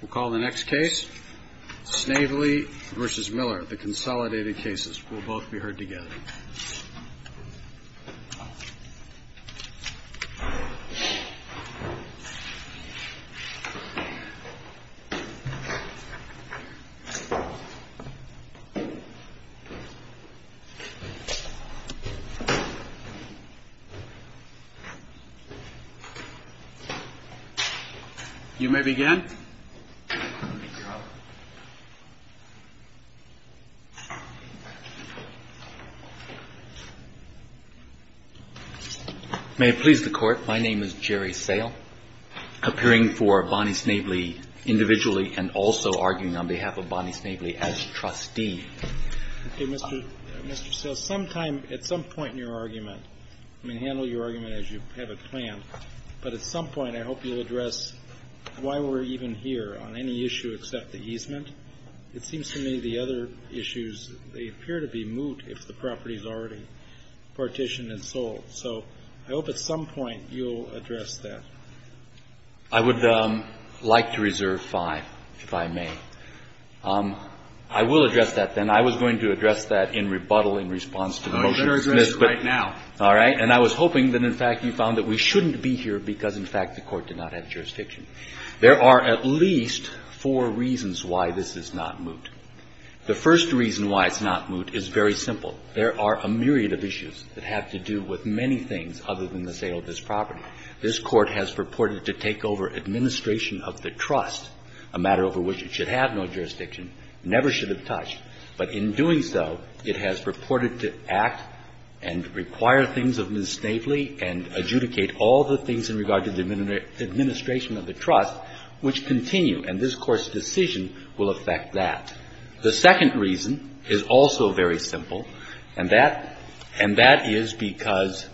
We'll call the next case, Snavely v. Miller, the consolidated cases. We'll both be heard together. You may begin. May it please the Court, my name is Jerry Sale, appearing for Bonnie Snavely individually and also arguing on behalf of Bonnie Snavely as trustee. Okay, Mr. Sale, sometime, at some point in your argument, I mean, handle your argument as you have it planned, but at some point, I hope you'll address why we're even here on any issue except the easement. It seems to me the other issues, they appear to be moot if the property is already partitioned and sold. So I hope at some point you'll address that. I would like to reserve five, if I may. I will address that, then. I was going to address that in rebuttal in response to the motion. Oh, you're addressing it right now. All right. And I was hoping that, in fact, you found that we shouldn't be here because, in fact, the Court did not have jurisdiction. There are at least four reasons why this is not moot. The first reason why it's not moot is very simple. There are a myriad of issues that have to do with many things other than the sale of this property. This Court has purported to take over administration of the trust, a matter over which it should have no jurisdiction, never should have touched. But in doing so, it has purported to act and require things of Ms. Snavely and adjudicate all the things in regard to the administration of the trust, which continue. And this Court's decision will affect that. The second reason is also very simple, and that is because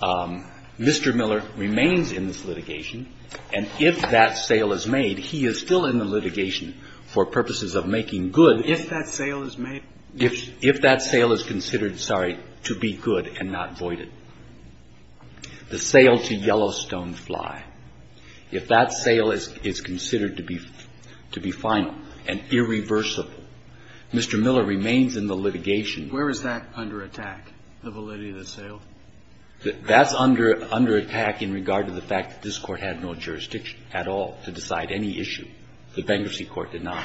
Mr. Miller remains in this litigation, and if that sale is made, he is still in the litigation for purposes of making good. And if that sale is made, if that sale is considered, sorry, to be good and not voided, the sale to Yellowstone Fly, if that sale is considered to be final and irreversible, Mr. Miller remains in the litigation. Where is that under attack, the validity of the sale? That's under attack in regard to the fact that this Court had no jurisdiction at all to decide any issue. The bankruptcy court did not.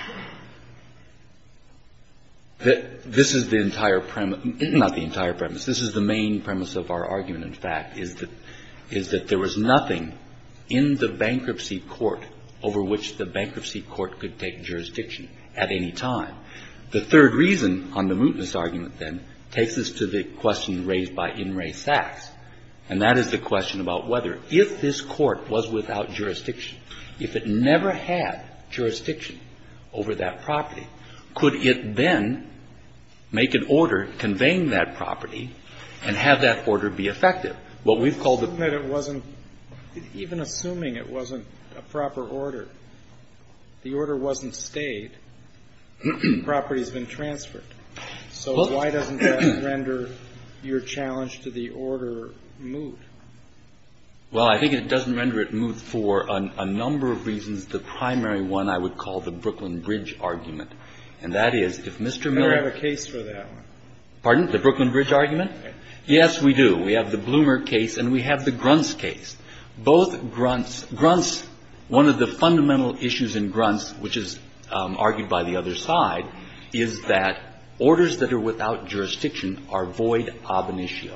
This is the entire premise of our argument, in fact, is that there was nothing in the bankruptcy court over which the bankruptcy court could take jurisdiction at any time. The third reason on the mootness argument, then, takes us to the question raised by In re Sachs, and that is the question about whether, if this court was without jurisdiction over that property, could it then make an order conveying that property and have that order be effective? What we've called the ---- Kennedy. I think that it wasn't, even assuming it wasn't a proper order, the order wasn't stayed. The property has been transferred. So why doesn't that render your challenge to the order moot? Well, I think it doesn't render it moot for a number of reasons. The primary one I would call the Brooklyn Bridge argument, and that is if Mr. Miller ---- I don't have a case for that one. Pardon? The Brooklyn Bridge argument? Yes, we do. We have the Bloomer case and we have the Gruntz case. Both Gruntz ---- Gruntz, one of the fundamental issues in Gruntz, which is argued by the other side, is that orders that are without jurisdiction are void ob initio.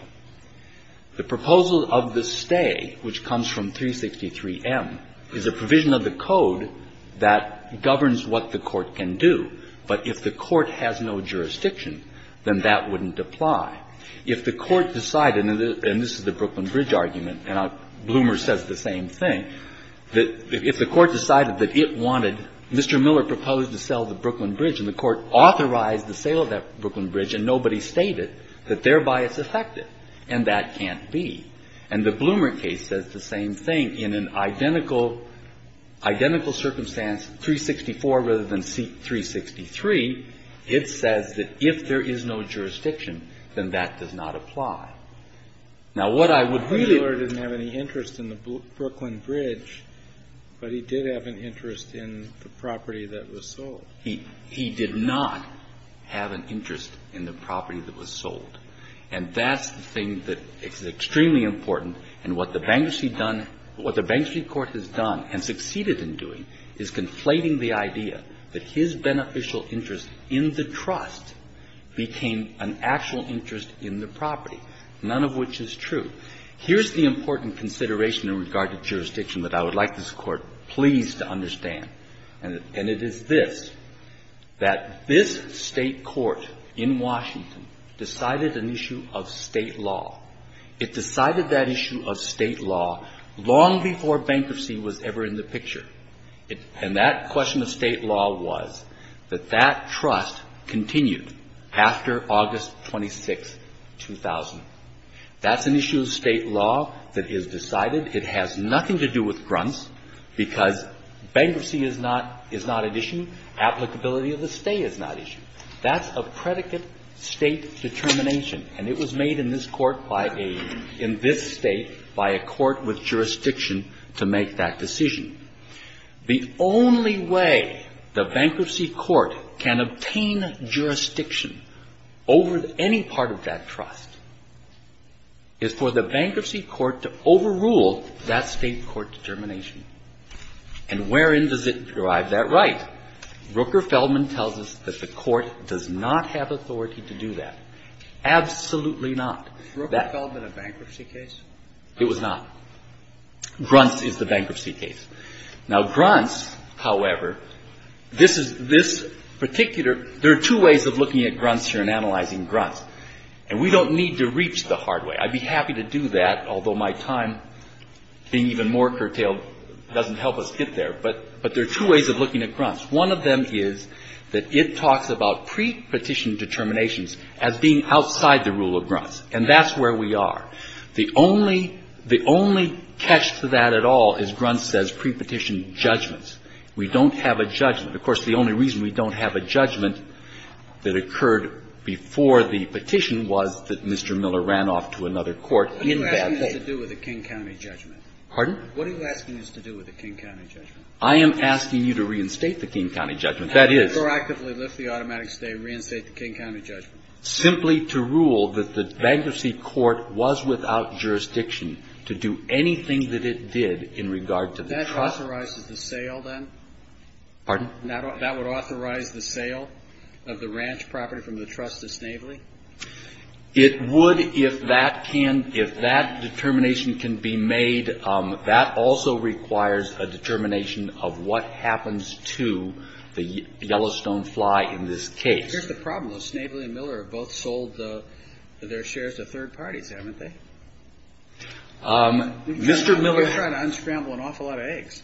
The proposal of the stay, which comes from 363M, is a provision of the code that governs what the court can do. But if the court has no jurisdiction, then that wouldn't apply. If the court decided, and this is the Brooklyn Bridge argument, and Bloomer says the same thing, that if the court decided that it wanted ---- Mr. Miller proposed to sell the Brooklyn Bridge, and the court authorized the sale of that Brooklyn Bridge, then that would affect it, and that can't be. And the Bloomer case says the same thing in an identical ---- identical circumstance, 364 rather than 363. It says that if there is no jurisdiction, then that does not apply. Now, what I would really ---- Kennedy, however, didn't have any interest in the Brooklyn Bridge, but he did have an interest in the property that was sold. He did not have an interest in the property that was sold. And that's the thing that is extremely important. And what the bankruptcy done ---- what the Bankruptcy Court has done and succeeded in doing is conflating the idea that his beneficial interest in the trust became an actual interest in the property, none of which is true. Here's the important consideration in regard to jurisdiction that I would like this Court, please, to understand, and it is this, that this State court in Washington decided an issue of State law. It decided that issue of State law long before bankruptcy was ever in the picture. And that question of State law was that that trust continued after August 26, 2000. That's an issue of State law that is decided. It has nothing to do with grunts because bankruptcy is not an issue. Applicability of the stay is not an issue. That's a predicate State determination. And it was made in this Court by a ---- in this State by a court with jurisdiction to make that decision. The only way the Bankruptcy Court can obtain jurisdiction over any part of that trust is for the Bankruptcy Court to overrule that State court determination. And wherein does it derive that right? Rooker-Feldman tells us that the Court does not have authority to do that. Absolutely not. That ---- Roberts. Rooker-Feldman a bankruptcy case? It was not. Grunts is the bankruptcy case. Now, grunts, however, this is this particular ---- there are two ways of looking at grunts here and analyzing grunts. And we don't need to reach the hard way. I'd be happy to do that, although my time being even more curtailed doesn't help us get there. But there are two ways of looking at grunts. One of them is that it talks about pre-petition determinations as being outside the rule of grunts. And that's where we are. The only ---- the only catch to that at all is grunts says pre-petition judgments. We don't have a judgment. Of course, the only reason we don't have a judgment that occurred before the petition was that Mr. Miller ran off to another court in bad faith. What are you asking us to do with a King County judgment? Pardon? What are you asking us to do with a King County judgment? I am asking you to reinstate the King County judgment. That is ---- Or actively lift the automatic stay and reinstate the King County judgment. Simply to rule that the bankruptcy court was without jurisdiction to do anything that it did in regard to the trust. That authorizes the sale, then? Pardon? That would authorize the sale of the ranch property from the trust to Snavely? It would if that can ---- if that determination can be made. That also requires a determination of what happens to the Yellowstone fly in this case. Here's the problem, though. Snavely and Miller have both sold their shares to third parties, haven't they? Mr. Miller ---- You're trying to unscramble an awful lot of eggs.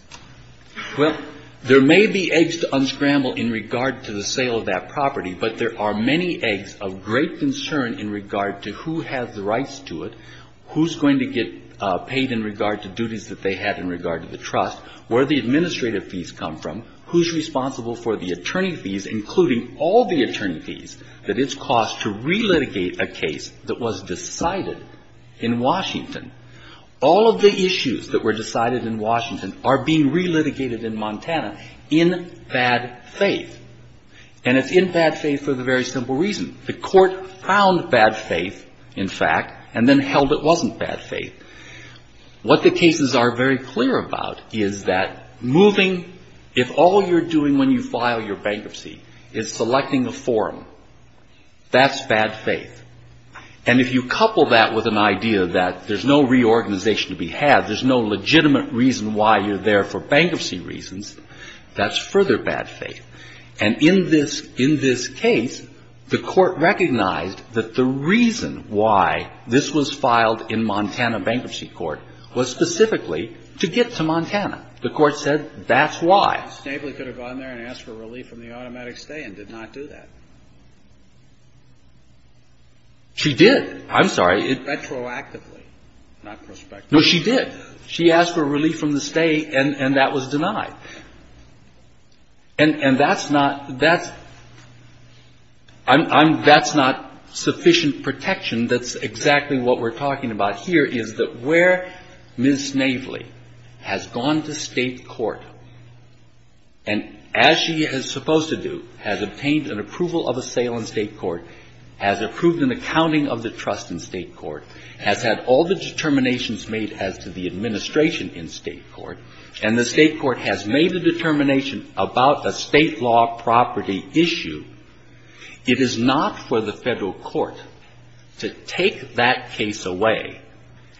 Well, there may be eggs to unscramble in regard to the sale of that property, but there are many eggs of great concern in regard to who has the rights to it, who's going to get paid in regard to duties that they had in regard to the trust, where the administrative fees come from, who's responsible for the attorney fees, including all the attorney fees that it's cost to relitigate a case that was decided in Washington. All of the issues that were decided in Washington are being relitigated in Montana in bad faith, and it's in bad faith for the very simple reason. The court found bad faith, in fact, and then held it wasn't bad faith. What the cases are very clear about is that moving ---- if all you're doing when you file your bankruptcy is selecting a forum, that's bad faith. And if you couple that with an idea that there's no reorganization to be had, there's no legitimate reason why you're there for bankruptcy reasons, that's further bad faith. And in this case, the court recognized that the reason why this was filed in Montana Bankruptcy Court was specifically to get to Montana. The court said that's why. Ms. Gable could have gone there and asked for relief from the automatic stay and did not do that. She did. I'm sorry. Retroactively, not prospectively. No, she did. She asked for relief from the stay, and that was denied. And that's not sufficient protection. That's exactly what we're talking about here, is that where Ms. Navely has gone to state court, and as she is supposed to do, has obtained an approval of a sale in state court, has approved an accounting of the trust in state court, has had all the determinations made as to the administration in state court, and the state court has made a determination about a state law property issue, it is not for the federal court to take that case away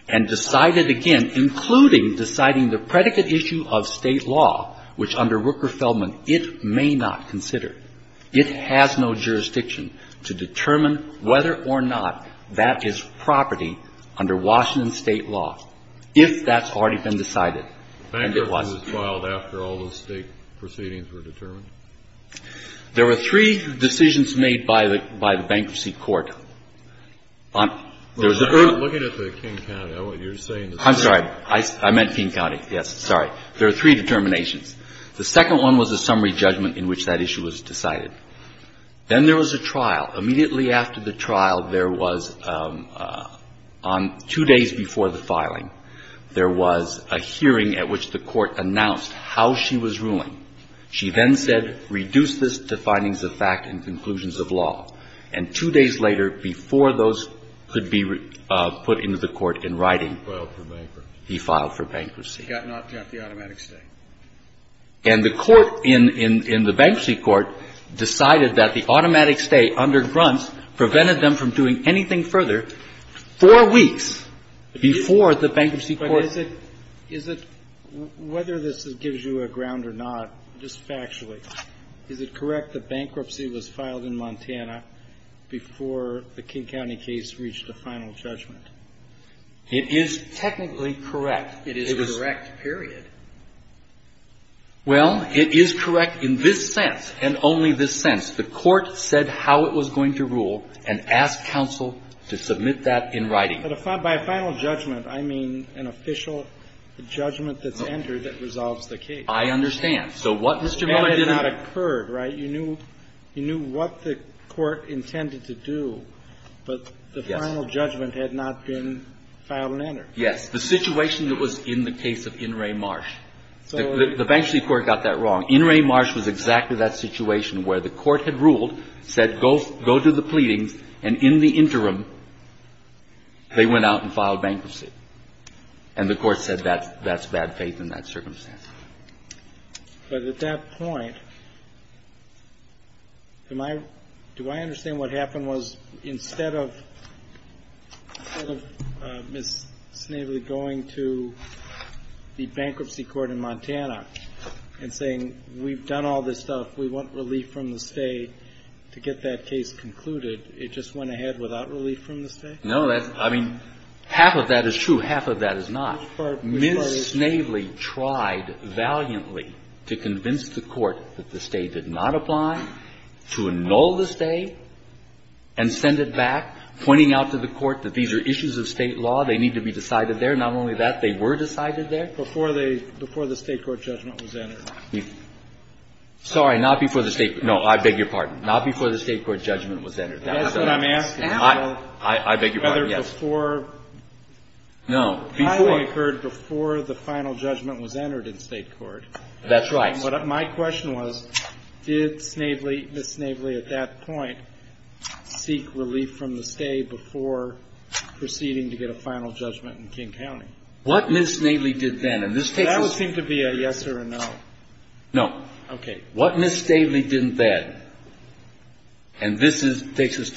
and decide it again, including deciding the predicate issue of state law, which under Rooker-Feldman, it may not consider. It has no jurisdiction to determine whether or not that is property under Washington state law, if that's already been decided. Bankruptcy was filed after all the state proceedings were determined? There were three decisions made by the bankruptcy court. Looking at the King County, what you're saying is... I'm sorry. I meant King County. Yes, sorry. There are three determinations. The second one was a summary judgment in which that issue was decided. Then there was a trial. Immediately after the trial, there was, on two days before the filing, there was a hearing at which the court announced how she was ruling. She then said, reduce this to findings of fact and conclusions of law. And two days later, before those could be put into the court in writing... Filed for bankruptcy. He filed for bankruptcy. He got the automatic stay. And the court in the bankruptcy court decided that the automatic stay under Grunts prevented them from doing anything further four weeks before the bankruptcy court... But is it, is it, whether this gives you a ground or not, just factually, is it correct that bankruptcy was filed in Montana before the King County case reached a final judgment? It is technically correct. It is a correct period. Well, it is correct in this sense and only this sense. The court said how it was going to rule and asked counsel to submit that in writing. But by a final judgment, I mean an official judgment that's entered that resolves the case. I understand. So what Mr. Miller did not occur, right? You knew, you knew what the court intended to do, but the final judgment had not been filed and entered. Yes. The situation that was in the case of In re Marsh, the bankruptcy court got that wrong. In re Marsh was exactly that situation where the court had ruled, said, go, go to the pleadings and in the interim, they went out and filed bankruptcy. And the court said, that's, that's bad faith in that circumstance. But at that point, am I, do I understand what happened was instead of, instead of Ms. Snavely going to the bankruptcy court in Montana and saying, we've done all this stuff, we want relief from the state to get that case concluded, it just went ahead without relief from the state? No, that's, I mean, half of that is true. Half of that is not. Ms. Snavely tried valiantly to convince the court that the state did not apply, to annul the state and send it back, pointing out to the court that these are issues of state law. They need to be decided there. Not only that, they were decided there. Before they, before the state court judgment was entered. Sorry, not before the state, no, I beg your pardon. Not before the state court judgment was entered. That's what I'm asking. I, I, I beg your pardon. Yes. Before. No, before. The filing occurred before the final judgment was entered in state court. That's right. My question was, did Snavely, Ms. Snavely, at that point, seek relief from the state before proceeding to get a final judgment in King County? What Ms. Snavely did then, and this takes us to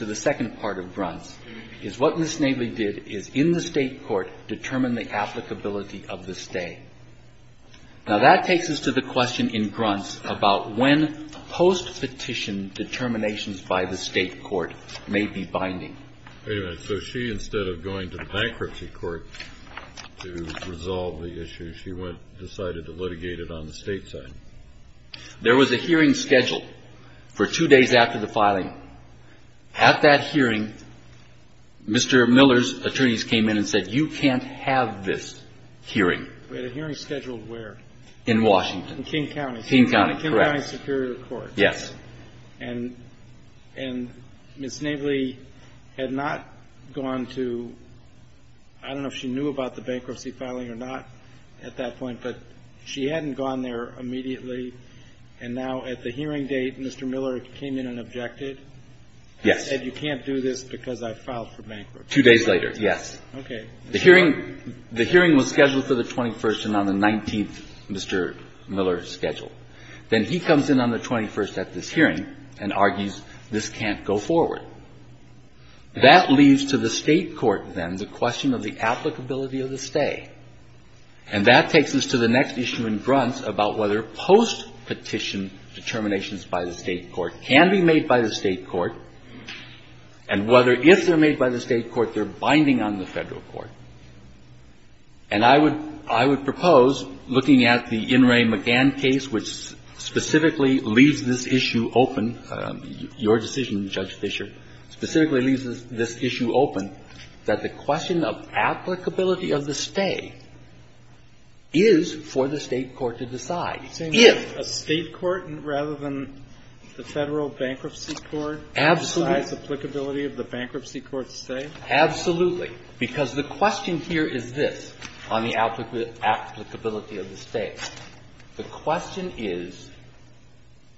the second part of Grunts, is what Ms. Snavely did is, in the state court, determine the applicability of the state. Now, that takes us to the question in Grunts about when post-petition determinations by the state court may be binding. Wait a minute. So she, instead of going to the bankruptcy court to resolve the issue, she went, decided to litigate it on the state side. There was a hearing scheduled for two days after the filing. At that hearing, Mr. Miller's attorneys came in and said, you can't have this hearing. At a hearing scheduled where? In Washington. In King County. In King County, correct. In King County Superior Court. Yes. And Ms. Snavely had not gone to – I don't know if she knew about the bankruptcy filing or not at that point, but she hadn't gone there immediately. And now at the hearing date, Mr. Miller came in and objected. Yes. And said, you can't do this because I filed for bankruptcy. Two days later, yes. Okay. The hearing was scheduled for the 21st and on the 19th, Mr. Miller scheduled. Then he comes in on the 21st at this hearing and argues this can't go forward. That leaves to the state court, then, the question of the applicability of the stay. And that takes us to the next issue in Grunts about whether post-petition determinations by the state court can be made by the state court and whether, if they're made by the state court, they're binding on the Federal bankruptcy court. And I would propose, looking at the In re McGann case, which specifically leaves this issue open, your decision, Judge Fischer, specifically leaves this issue open, that the question of applicability of the stay is for the state court to decide. If the state court, rather than the Federal bankruptcy court, decides applicability of the bankruptcy court's stay? Absolutely. Because the question here is this on the applicability of the stay. The question is,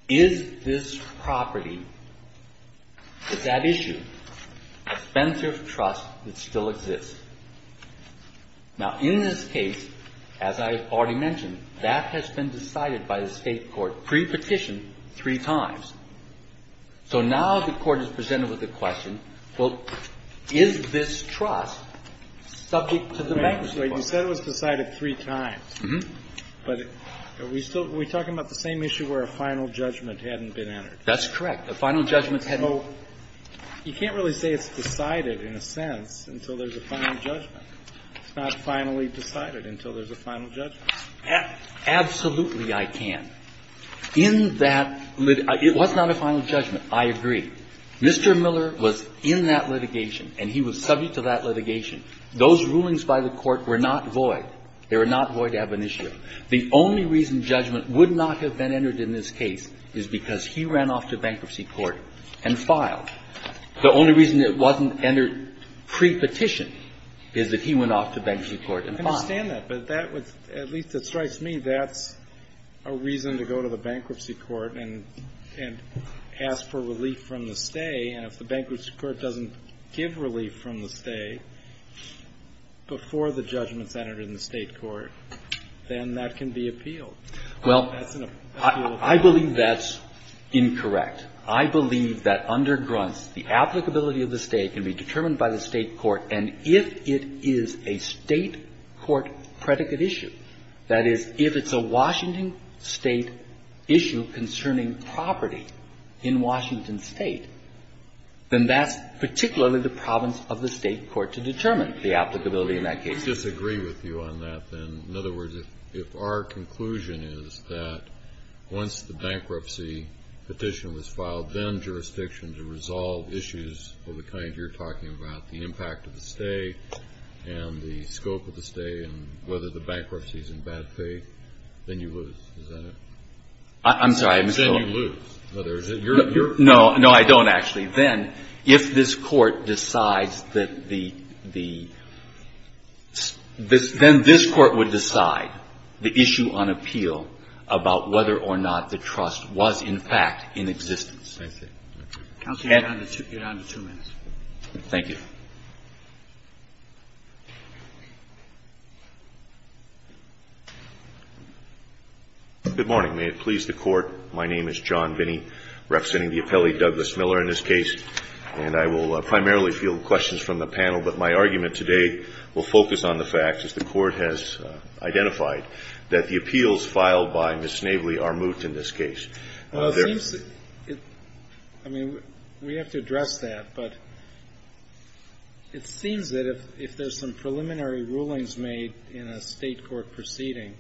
is this property, is that issue a fence of trust that still exists? Now, in this case, as I already mentioned, that has been decided by the state court pre-petition three times. So now the Court is presented with the question, well, is this trust subject to the bankruptcy court? You said it was decided three times. But are we still we talking about the same issue where a final judgment hadn't been entered? That's correct. A final judgment hadn't been entered. So you can't really say it's decided in a sense until there's a final judgment. It's not finally decided until there's a final judgment. Absolutely, I can. In that, it was not a final judgment, I agree. Mr. Miller was in that litigation, and he was subject to that litigation. Those rulings by the Court were not void. They were not void ab initio. The only reason judgment would not have been entered in this case is because he ran off to bankruptcy court and filed. The only reason it wasn't entered pre-petition is that he went off to bankruptcy court and filed. I understand that, but that would, at least it strikes me, that's a reason to go to the bankruptcy court and ask for relief from the stay, and if the bankruptcy court doesn't give relief from the stay before the judgment's entered in the State court, then that can be appealed. Well, I believe that's incorrect. I believe that under Gruntz, the applicability of the stay can be determined by the State court, and if it is a State court predicate issue, that is, if it's a Washington State issue concerning property in Washington State, then that's particularly the province of the State court to determine the applicability in that case. I disagree with you on that, then. In other words, if our conclusion is that once the bankruptcy petition was filed, then jurisdiction to resolve issues of the kind you're talking about, the impact of the stay and the scope of the stay and whether the bankruptcy is in bad faith, then you lose, is that it? I'm sorry. Then you lose. No, I don't, actually. Then if this Court decides that the – then this Court would decide the issue on appeal about whether or not the trust was, in fact, in existence. I see. Counsel, you're down to two minutes. Thank you. Good morning. May it please the Court. My name is John Vinnie, representing the appellee, Douglas Miller, in this case, and I will primarily field questions from the panel, but my argument today will focus on the fact, as the Court has identified, that the appeals filed by Ms. Snavely are moot in this case. Well, it seems – I mean, we have to address that, but it seems that if there's some preliminary rulings made in a state court proceeding,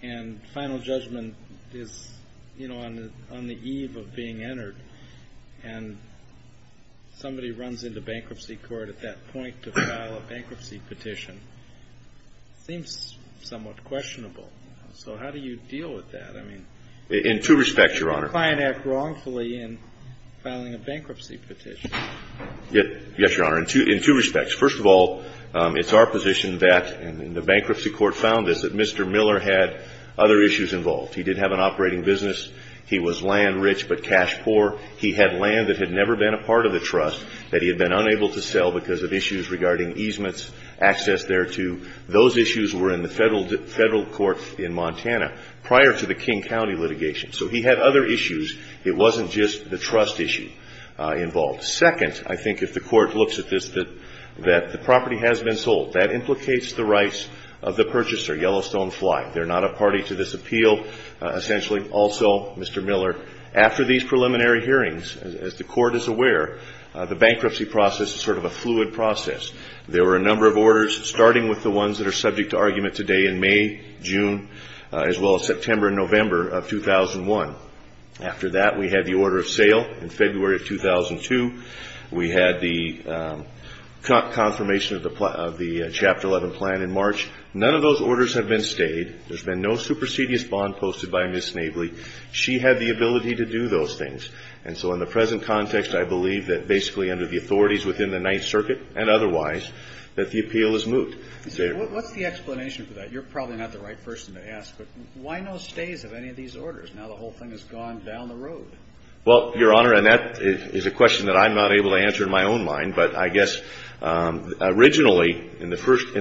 and final judgment is, you know, on the eve of being entered, and somebody runs into bankruptcy court at that point to file a bankruptcy petition, it seems somewhat questionable, you know, so how do you deal with that? I mean – In two respects, Your Honor. You can't act wrongfully in filing a bankruptcy petition. Yes, Your Honor, in two respects. First of all, it's our position that – and the Bankruptcy Court found this – that Mr. Miller had other issues involved. He did have an operating business. He was land-rich but cash-poor. He had land that had never been a part of the trust that he had been unable to sell because of issues regarding easements, access thereto. Those issues were in the Federal court in Montana. prior to the King County litigation. So he had other issues. It wasn't just the trust issue involved. Second, I think if the court looks at this, that the property has been sold. That implicates the rights of the purchaser, Yellowstone Fly. They're not a party to this appeal, essentially. Also, Mr. Miller, after these preliminary hearings, as the court is aware, the bankruptcy process is sort of a fluid process. There were a number of orders, starting with the ones that are subject to argument today in May, June, as well as September and November of 2001. After that, we had the order of sale in February of 2002. We had the confirmation of the Chapter 11 plan in March. None of those orders have been stayed. There's been no supersedious bond posted by Ms. Snavely. She had the ability to do those things. And so in the present context, I believe that basically under the authorities within the Ninth Circuit and otherwise, that the appeal is moot. So what's the explanation for that? You're probably not the right person to ask, but why no stays of any of these orders? Now the whole thing has gone down the road. Well, Your Honor, and that is a question that I'm not able to answer in my own mind, but I guess originally, in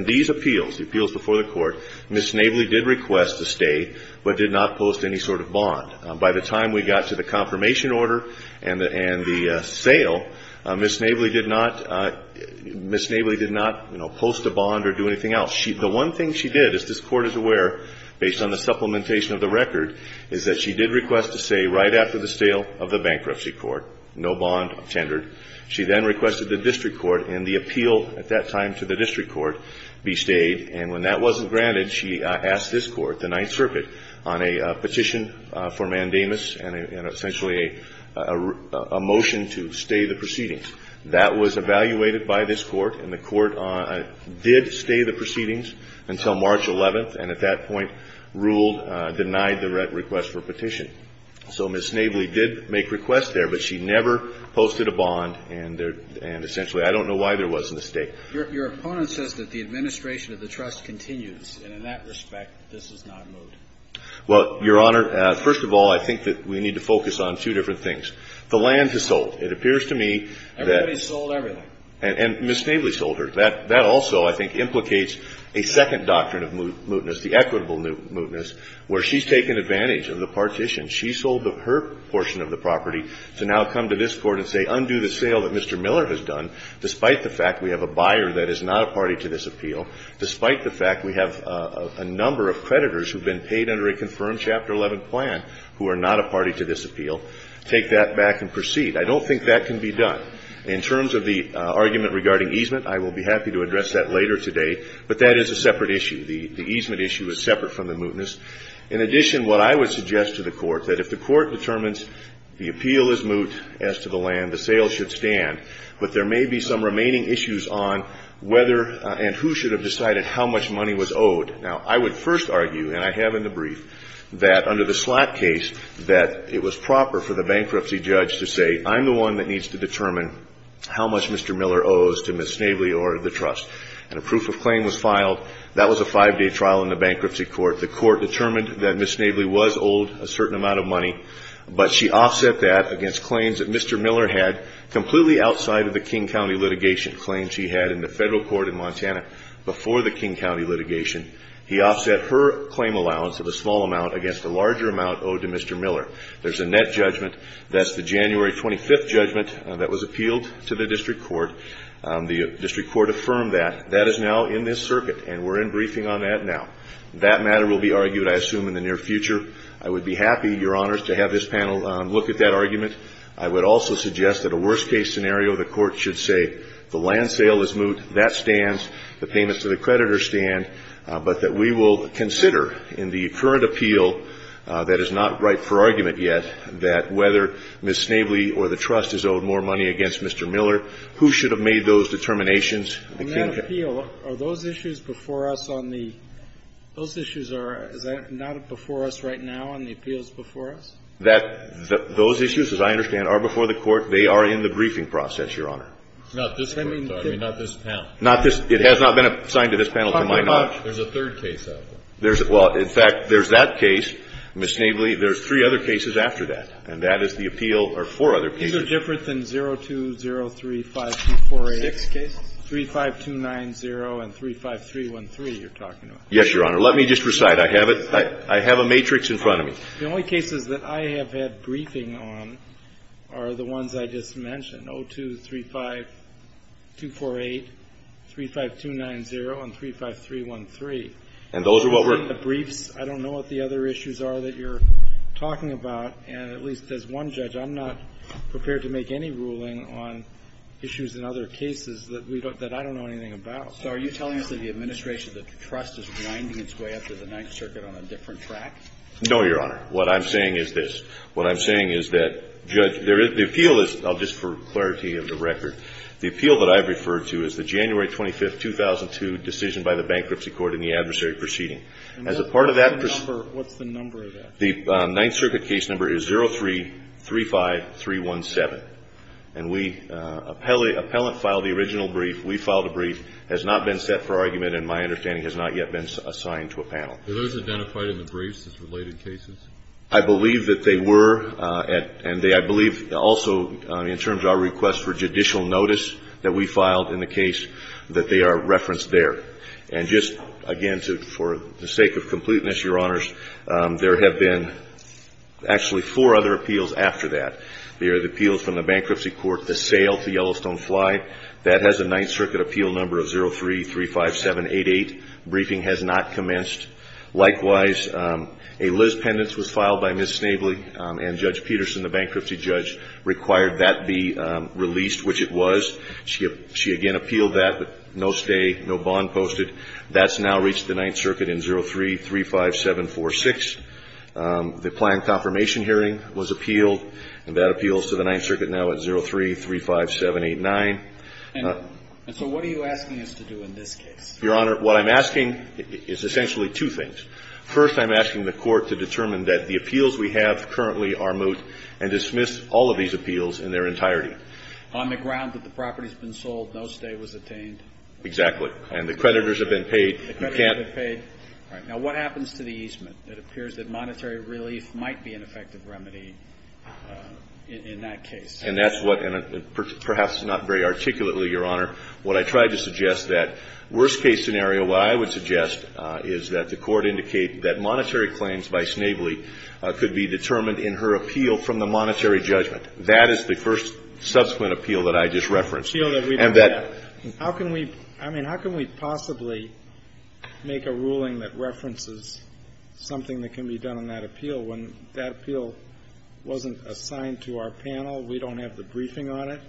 these appeals, the appeals before the court, Ms. Snavely did request a stay, but did not post any sort of bond. By the time we got to the confirmation order and the sale, Ms. Snavely did not post a bond or do anything else. The one thing she did, as this Court is aware, based on the supplementation of the record, is that she did request a stay right after the sale of the bankruptcy court. No bond tendered. She then requested the district court and the appeal at that time to the district court be stayed. And when that wasn't granted, she asked this court, the Ninth Circuit, on a petition for mandamus and essentially a motion to stay the proceedings. That was evaluated by this Court, and the Court did stay the proceedings until March 11th, and at that point ruled, denied the request for petition. So Ms. Snavely did make requests there, but she never posted a bond, and there – and essentially, I don't know why there wasn't a stay. Your opponent says that the administration of the trust continues, and in that respect, this has not moved. Well, Your Honor, first of all, I think that we need to focus on two different things. The land is sold. It appears to me that – Everybody sold everything. And Ms. Snavely sold her. That also, I think, implicates a second doctrine of mootness, the equitable mootness, where she's taken advantage of the partition. She sold her portion of the property to now come to this Court and say, undo the sale that Mr. Miller has done, despite the fact we have a buyer that is not a party to this appeal, despite the fact we have a number of creditors who have been paid under a confirmed Chapter 11 plan who are not a party to this appeal, take that back and proceed. I don't think that can be done. In terms of the argument regarding easement, I will be happy to address that later today, but that is a separate issue. The easement issue is separate from the mootness. In addition, what I would suggest to the Court, that if the Court determines the appeal is moot as to the land, the sale should stand, but there may be some remaining issues on whether and who should have decided how much money was owed. Now, I would first argue, and I have in the brief, that under the Slatt case, that it was proper for the bankruptcy judge to say, I'm the one that needs to determine how much Mr. Miller owes to Ms. Snavely or the trust. And a proof of claim was filed. That was a five-day trial in the bankruptcy court. The court determined that Ms. Snavely was owed a certain amount of money, but she offset that against claims that Mr. Miller had completely outside of the King County litigation, claims he had in the federal court in Montana before the King County litigation. He offset her claim allowance of a small amount against a larger amount owed to Mr. Miller. There's a net judgment. That's the January 25th judgment that was appealed to the district court. The district court affirmed that. That is now in this circuit, and we're in briefing on that now. That matter will be argued, I assume, in the near future. I would be happy, Your Honors, to have this panel look at that argument. I would also suggest that a worst-case scenario, the court should say, the land sale is moot. That stands. The payments to the creditor stand. But that we will consider in the current appeal that is not ripe for argument yet, that whether Ms. Snavely or the trust is owed more money against Mr. Miller, who should have made those determinations, the King County. Are those issues before us on the – those issues are – is that not before us right now on the appeals before us? That – those issues, as I understand, are before the court. They are in the briefing process, Your Honor. It's not this court, though. I mean, not this panel. Not this – it has not been assigned to this panel to my knowledge. There's a third case out there. There's – well, in fact, there's that case, Ms. Snavely. There's three other cases after that. And that is the appeal – or four other cases. These are different than 02035248. Six cases. 35290 and 35313 you're talking about. Yes, Your Honor. Let me just recite. I have it – I have a matrix in front of me. The only cases that I have had briefing on are the ones I just mentioned, 0235248, 35290, and 35313. And those are what we're – In the briefs, I don't know what the other issues are that you're talking about. And at least as one judge, I'm not prepared to make any ruling on issues in other cases that we don't – that I don't know anything about. So are you telling us that the administration – that the trust is winding its way up to the Ninth Circuit on a different track? No, Your Honor. What I'm saying is this. What I'm saying is that, Judge, there is – the appeal is – just for clarity of the record, the appeal that I've referred to is the January 25, 2002, decision by the Bankruptcy Court in the adversary proceeding. As a part of that – And what's the number of that? The Ninth Circuit case number is 0335317. And we – appellant filed the original brief. We filed a brief. Has not been set for argument, and my understanding, has not yet been assigned to a panel. Were those identified in the briefs as related cases? I believe that they were, and they – I believe also, in terms of our request for judicial notice that we filed in the case, that they are referenced there. And just, again, for the sake of completeness, Your Honors, there have been actually four other appeals after that. They are the appeals from the Bankruptcy Court, the sale to Yellowstone Flight. That has a Ninth Circuit appeal number of 0335788. Briefing has not commenced. Likewise, a Liz Pendence was filed by Ms. Snavely, and Judge Peterson, the bankruptcy judge, required that be released, which it was. She again appealed that, but no stay, no bond posted. That's now reached the Ninth Circuit in 0335746. The planned confirmation hearing was appealed, and that appeals to the Ninth Circuit now at 0335789. And so what are you asking us to do in this case? Your Honor, what I'm asking is essentially two things. First, I'm asking the Court to determine that the appeals we have currently are moot, and dismiss all of these appeals in their entirety. On the ground that the property's been sold, no stay was attained? Exactly. And the creditors have been paid. The creditors have been paid. Now, what happens to the easement? It appears that monetary relief might be an effective remedy in that case. And that's what, and perhaps not very articulately, Your Honor, what I tried to suggest, that worst-case scenario, what I would suggest is that the Court indicate that monetary claims by Snavely could be determined in her appeal from the monetary judgment. That is the first subsequent appeal that I just referenced. Appeal that we've had. How can we, I mean, how can we possibly make a ruling that references something that can be done on that appeal when that appeal wasn't assigned to our panel? We don't have the briefing on it.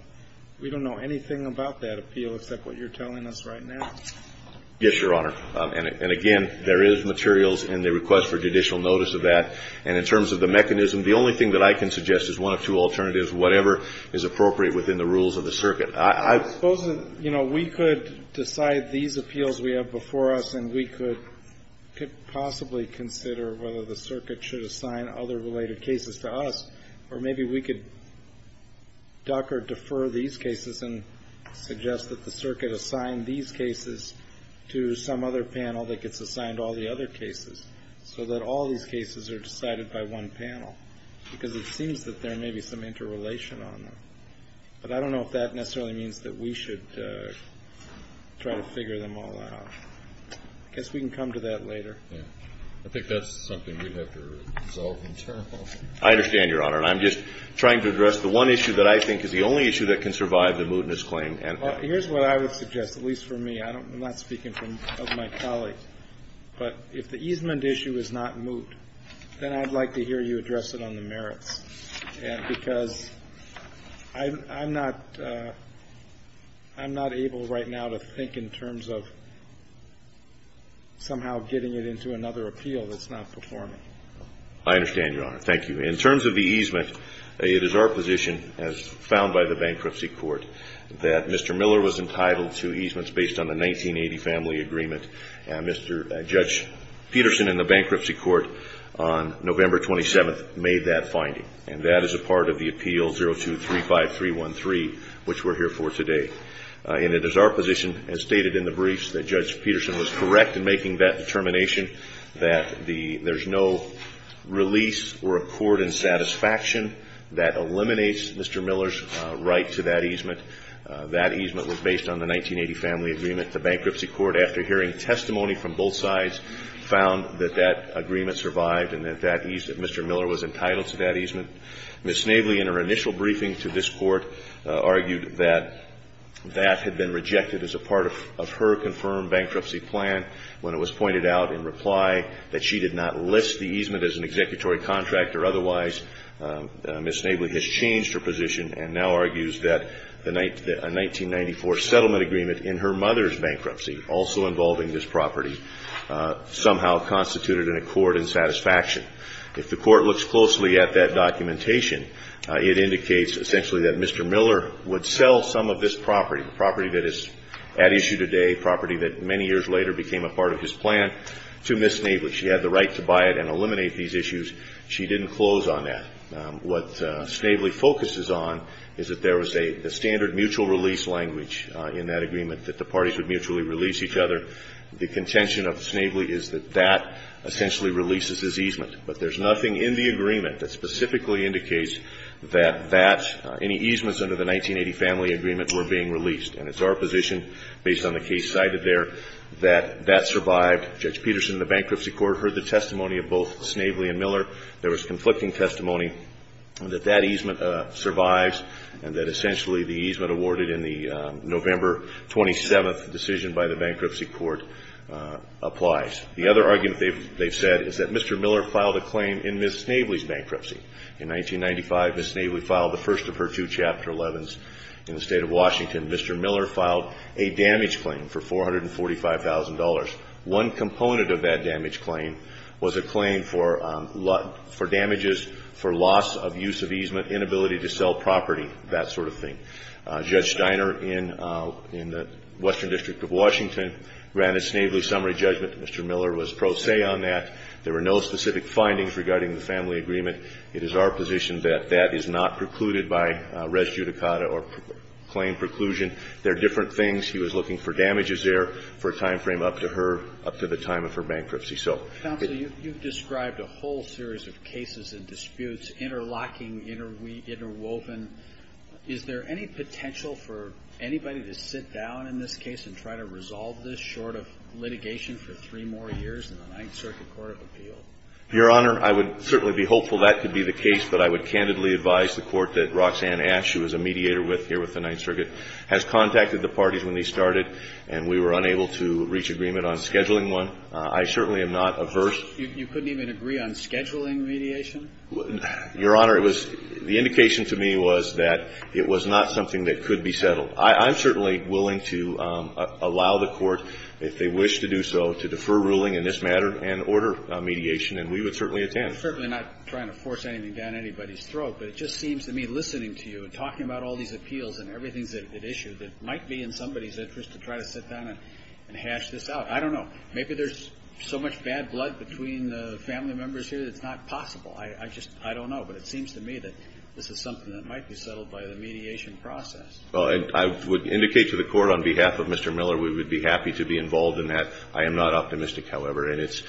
We don't know anything about that appeal except what you're telling us right now. Yes, Your Honor. And again, there is materials in the request for judicial notice of that. And in terms of the mechanism, the only thing that I can suggest is one or two alternatives, whatever is appropriate within the rules of the circuit. I suppose, you know, we could decide these appeals we have before us, and we could possibly consider whether the circuit should assign other related cases to us, or maybe we could duck or defer these cases and suggest that the circuit assign these cases to some other panel that gets assigned all the other cases, so that all these cases are decided by one panel. Because it seems that there may be some interrelation on them. But I don't know if that necessarily means that we should try to figure them all out. I guess we can come to that later. I think that's something we'd have to resolve in terms of. I understand, Your Honor. And I'm just trying to address the one issue that I think is the only issue that can survive the mootness claim. Here's what I would suggest, at least for me. I'm not speaking of my colleague. But if the easement issue is not moot, then I'd like to hear you address it on the merits. And because I'm not able right now to think in terms of somehow getting it into the courts. I'm not able to think of a way to get it into another appeal that's not performing. I understand, Your Honor. Thank you. In terms of the easement, it is our position, as found by the Bankruptcy Court, that Mr. Miller was entitled to easements based on the 1980 Family Agreement. Mr. Judge Peterson in the Bankruptcy Court on November 27th made that finding. And that is a part of the Appeal 0235-313, which we're here for today. And it is our position, as stated in the briefs, that Judge Peterson was correct in making that determination, that there's no release or accord in satisfaction that eliminates Mr. Miller's right to that easement. That easement was based on the 1980 Family Agreement. The Bankruptcy Court, after hearing testimony from both sides, found that that agreement survived and that Mr. Miller was entitled to that easement. Ms. Navely, in her initial briefing to this Court, argued that that had been rejected as a part of her confirmed bankruptcy plan when it was pointed out in reply that she did not list the easement as an executory contract or otherwise. Ms. Navely has changed her position and now argues that a 1994 settlement agreement in her mother's bankruptcy, also involving this property, somehow constituted an accord in satisfaction. If the Court looks closely at that documentation, it indicates essentially that Mr. Miller would sell some of this property, a property that is at issue today, a property that many years later became a part of his plan, to Ms. Navely. She had the right to buy it and eliminate these issues. She didn't close on that. What Snavely focuses on is that there was a standard mutual release language in that agreement, that the parties would mutually release each other. The contention of Snavely is that that essentially releases his easement. But there's nothing in the agreement that specifically indicates that that any easements under the 1980 family agreement were being released. And it's our position, based on the case cited there, that that survived. Judge Peterson, the Bankruptcy Court, heard the testimony of both Snavely and Miller. There was conflicting testimony that that easement survives and that essentially the easement awarded in the November 27th decision by the Bankruptcy Court applies. The other argument they've said is that Mr. Miller filed a claim in Ms. Snavely's bankruptcy. In 1995, Ms. Snavely filed the first of her two Chapter 11s in the State of Washington. Mr. Miller filed a damage claim for $445,000. One component of that damage claim was a claim for damages for loss of use of easement, inability to sell property, that sort of thing. Judge Steiner in the Western District of Washington ran a Snavely summary judgment. Mr. Miller was pro se on that. There were no specific findings regarding the family agreement. It is our position that that is not precluded by res judicata or claim preclusion. They're different things. He was looking for damages there for a timeframe up to her, up to the time of her bankruptcy. So the ---- Your Honor, I would certainly be hopeful that could be the case, but I would candidly advise the Court that Roxanne Ash, who is a mediator here with the Ninth Circuit, has contacted the parties when they started, and we were unable to reach agreement on scheduling one. I certainly am not averse. You couldn't even agree on scheduling mediation? Your Honor, it was ---- the indication to me was that it was not something that was going to be a part of the litigation. I'm certainly willing to allow the Court, if they wish to do so, to defer ruling in this matter and order mediation, and we would certainly attend. I'm certainly not trying to force anything down anybody's throat, but it just seems to me, listening to you and talking about all these appeals and everything that's at issue, that it might be in somebody's interest to try to sit down and hash this out. I don't know. Maybe there's so much bad blood between the family members here that it's not possible. I just don't know. But it seems to me that this is something that might be settled by the mediation process. Well, and I would indicate to the Court, on behalf of Mr. Miller, we would be happy to be involved in that. I am not optimistic, however, and it's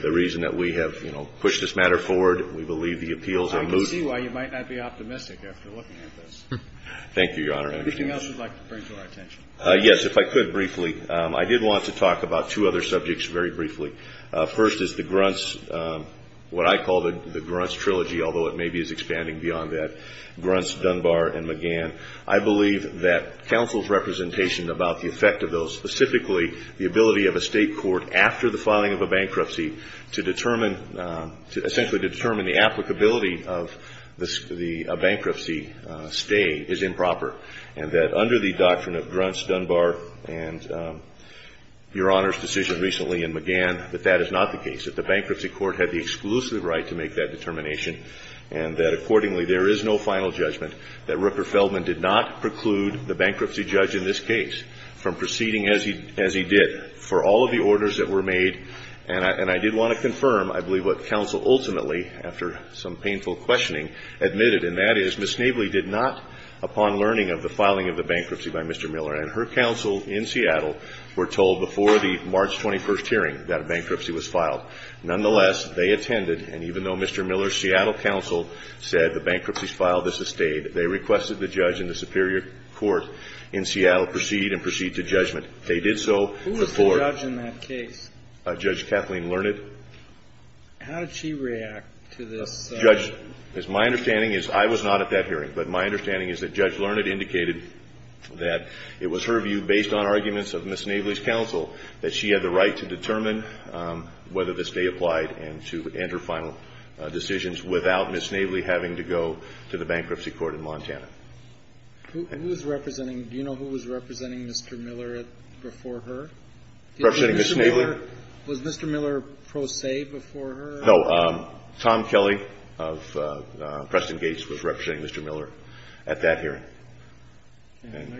the reason that we have, you know, pushed this matter forward. We believe the appeals are moot. I can see why you might not be optimistic after looking at this. Thank you, Your Honor. Anything else you'd like to bring to our attention? Yes, if I could briefly. I did want to talk about two other subjects very briefly. First is the Grunt's, what I call the Grunt's Trilogy, although it maybe is expanding beyond that, Grunt's, Dunbar, and McGann. I believe that counsel's representation about the effect of those, specifically the ability of a state court, after the filing of a bankruptcy, to determine, essentially to determine the applicability of the bankruptcy stay is improper, and that under the doctrine of Grunt's, Dunbar, and Your Honor's decision recently in McGann, that that is not the case. That the bankruptcy court had the exclusive right to make that determination, and that accordingly there is no final judgment that Rupert Feldman did not preclude the bankruptcy judge in this case from proceeding as he did for all of the orders that were made. And I did want to confirm, I believe, what counsel ultimately, after some painful questioning, admitted, and that is Ms. Navely did not, upon learning of the filing of the bankruptcy by Mr. Miller and her counsel in Seattle, were told before the March 21st hearing that a bankruptcy was filed. Nonetheless, they attended, and even though Mr. Miller's Seattle counsel said the bankruptcy's filed, this has stayed. They requested the judge in the Superior Court in Seattle proceed and proceed to judgment. They did so before. Kennedy. Who was the judge in that case? Carvin. Judge Kathleen Learned. Kennedy. How did she react to this? Carvin. Judge, as my understanding is, I was not at that hearing, but my understanding is that Judge Learned indicated that it was her view, based on arguments of Ms. Navely, that this stay applied and to enter final decisions without Ms. Navely having to go to the bankruptcy court in Montana. Who was representing? Do you know who was representing Mr. Miller before her? Carvin. Representing Ms. Navely? Was Mr. Miller pro se before her? Carvin. No. Tom Kelly of Preston Gates was representing Mr. Miller at that hearing. And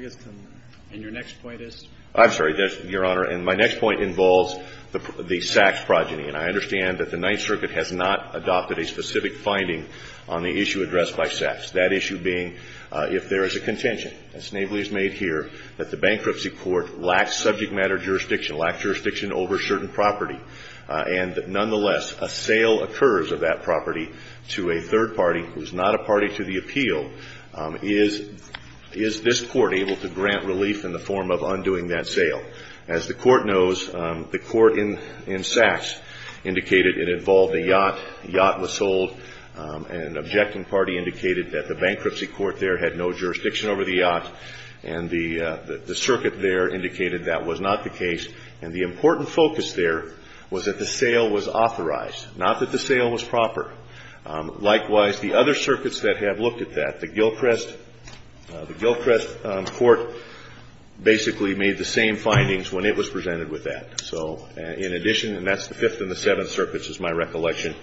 your next point is? Carvin. I'm sorry, Your Honor. And my next point involves the Sachs progeny, and I understand that the Ninth Circuit has not adopted a specific finding on the issue addressed by Sachs, that issue being if there is a contention, as Navely has made here, that the bankruptcy court lacks subject matter jurisdiction, lacks jurisdiction over certain property, and nonetheless a sale occurs of that property to a third party who is not a party to the appeal, is this court able to grant relief in the form of undoing that sale? As the court knows, the court in Sachs indicated it involved a yacht. The yacht was sold. An objecting party indicated that the bankruptcy court there had no jurisdiction over the yacht, and the circuit there indicated that was not the case. And the important focus there was that the sale was authorized, not that the sale was proper. Likewise, the other circuits that have looked at that, the Gilchrest Court basically made the same findings when it was presented with that. So in addition, and that's the Fifth and the Seventh Circuits is my recollection.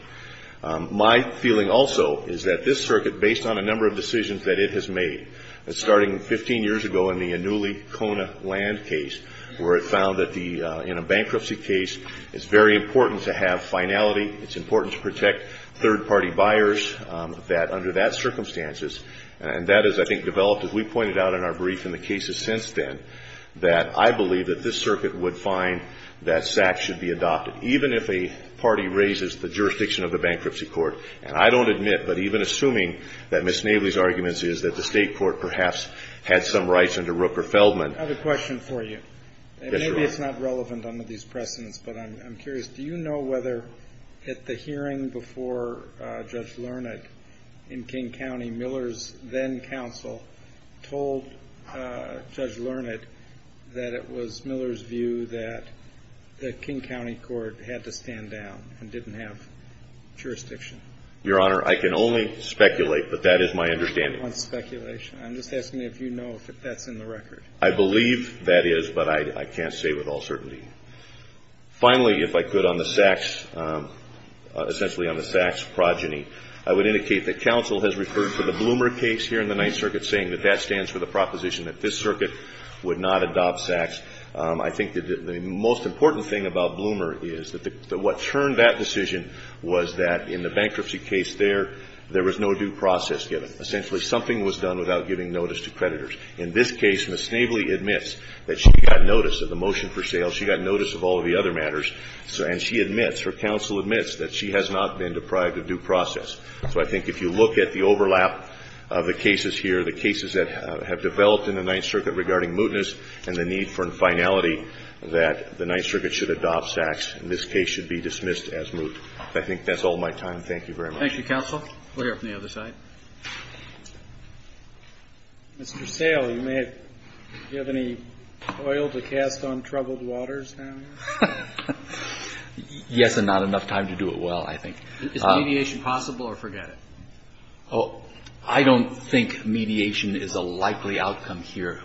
My feeling also is that this circuit, based on a number of decisions that it has made, starting 15 years ago in the Annuli-Kona land case, where it found that in a bankruptcy case it's very important to have finality, it's important to protect property, third-party buyers, that under that circumstances, and that is, I think, developed, as we pointed out in our brief in the cases since then, that I believe that this circuit would find that Sachs should be adopted, even if a party raises the jurisdiction of the bankruptcy court. And I don't admit, but even assuming that Ms. Navely's arguments is that the state court perhaps had some rights under Rooker-Feldman. I have a question for you. Yes, Your Honor. Maybe it's not relevant under these precedents, but I'm curious. Do you know whether at the hearing before Judge Learned in King County, Miller's then-counsel told Judge Learned that it was Miller's view that the King County court had to stand down and didn't have jurisdiction? Your Honor, I can only speculate, but that is my understanding. I don't want speculation. I'm just asking if you know if that's in the record. I believe that is, but I can't say with all certainty. Finally, if I could, on the Sachs, essentially on the Sachs progeny, I would indicate that counsel has referred to the Bloomer case here in the Ninth Circuit saying that that stands for the proposition that this circuit would not adopt Sachs. I think that the most important thing about Bloomer is that what turned that decision was that in the bankruptcy case there, there was no due process given. Essentially, something was done without giving notice to creditors. In this case, Ms. Snavely admits that she got notice of the motion for sale. She got notice of all of the other matters, and she admits, her counsel admits, that she has not been deprived of due process. So I think if you look at the overlap of the cases here, the cases that have developed in the Ninth Circuit regarding mootness and the need for finality, that the Ninth Circuit should adopt Sachs, and this case should be dismissed as moot. I think that's all my time. Thank you very much. Thank you, counsel. We'll hear from the other side. Mr. Sale, do you have any oil to cast on troubled waters now? Yes, and not enough time to do it well, I think. Is mediation possible or forget it? I don't think mediation is a likely outcome here.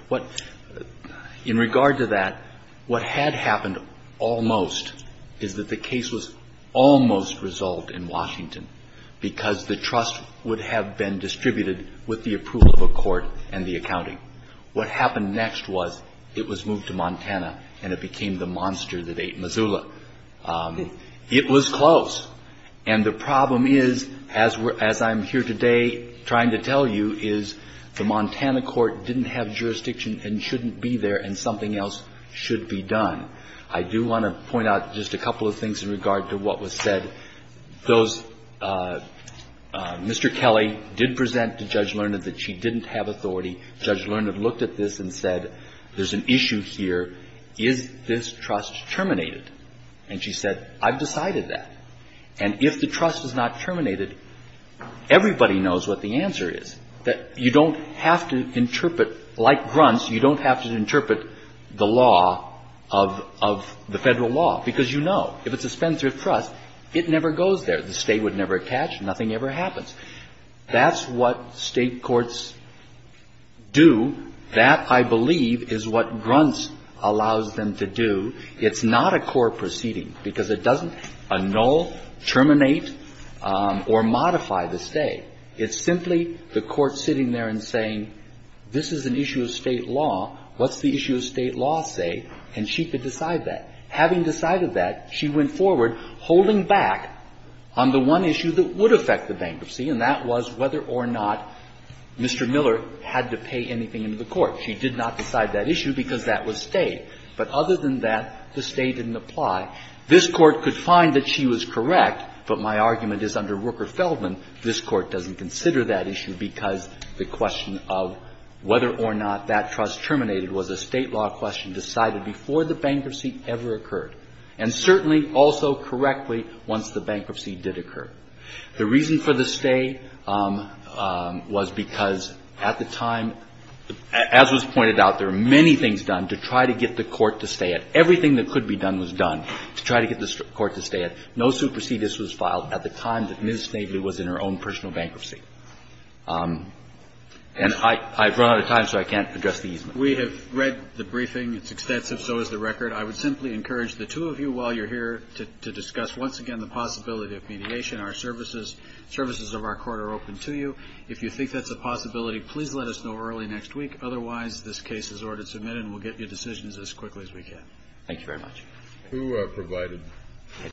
In regard to that, what had happened almost is that the case was almost resolved in Washington because the trust would have been distributed with the approval of a court and the accounting. What happened next was it was moved to Montana, and it became the monster that ate Missoula. It was close. And the problem is, as I'm here today trying to tell you, is the Montana court didn't have jurisdiction and shouldn't be there, and something else should be done. I do want to point out just a couple of things in regard to what was said. Those Mr. Kelly did present to Judge Learned that she didn't have authority. Judge Learned looked at this and said, there's an issue here. Is this trust terminated? And she said, I've decided that. And if the trust is not terminated, everybody knows what the answer is, that you don't have to interpret, like Gruntz, you don't have to interpret the law of the Federal law, because you know, if it's a spendthrift trust, it never goes there. The State would never catch. Nothing ever happens. That's what State courts do. That, I believe, is what Gruntz allows them to do. It's not a court proceeding, because it doesn't annul, terminate, or modify the State. It's simply the court sitting there and saying, this is an issue of State law. What's the issue of State law say? And she could decide that. Having decided that, she went forward, holding back on the one issue that would affect the bankruptcy, and that was whether or not Mr. Miller had to pay anything into the court. She did not decide that issue, because that was State. But other than that, the State didn't apply. This Court could find that she was correct, but my argument is under Rooker-Feldman, this Court doesn't consider that issue, because the question of whether or not that trust terminated was a State law question decided before the bankruptcy ever occurred and certainly also correctly once the bankruptcy did occur. The reason for the stay was because at the time, as was pointed out, there were many things done to try to get the court to stay it. Everything that could be done was done to try to get the court to stay it. No supersedes was filed. At the time that Ms. Snavely was in her own personal bankruptcy. And I've run out of time, so I can't address the easement. We have read the briefing. It's extensive, so is the record. I would simply encourage the two of you, while you're here, to discuss once again the possibility of mediation. Our services, services of our court are open to you. If you think that's a possibility, please let us know early next week. Otherwise, this case is ordered to submit, and we'll get your decisions as quickly as we can. Thank you very much. Thank you. You are provided.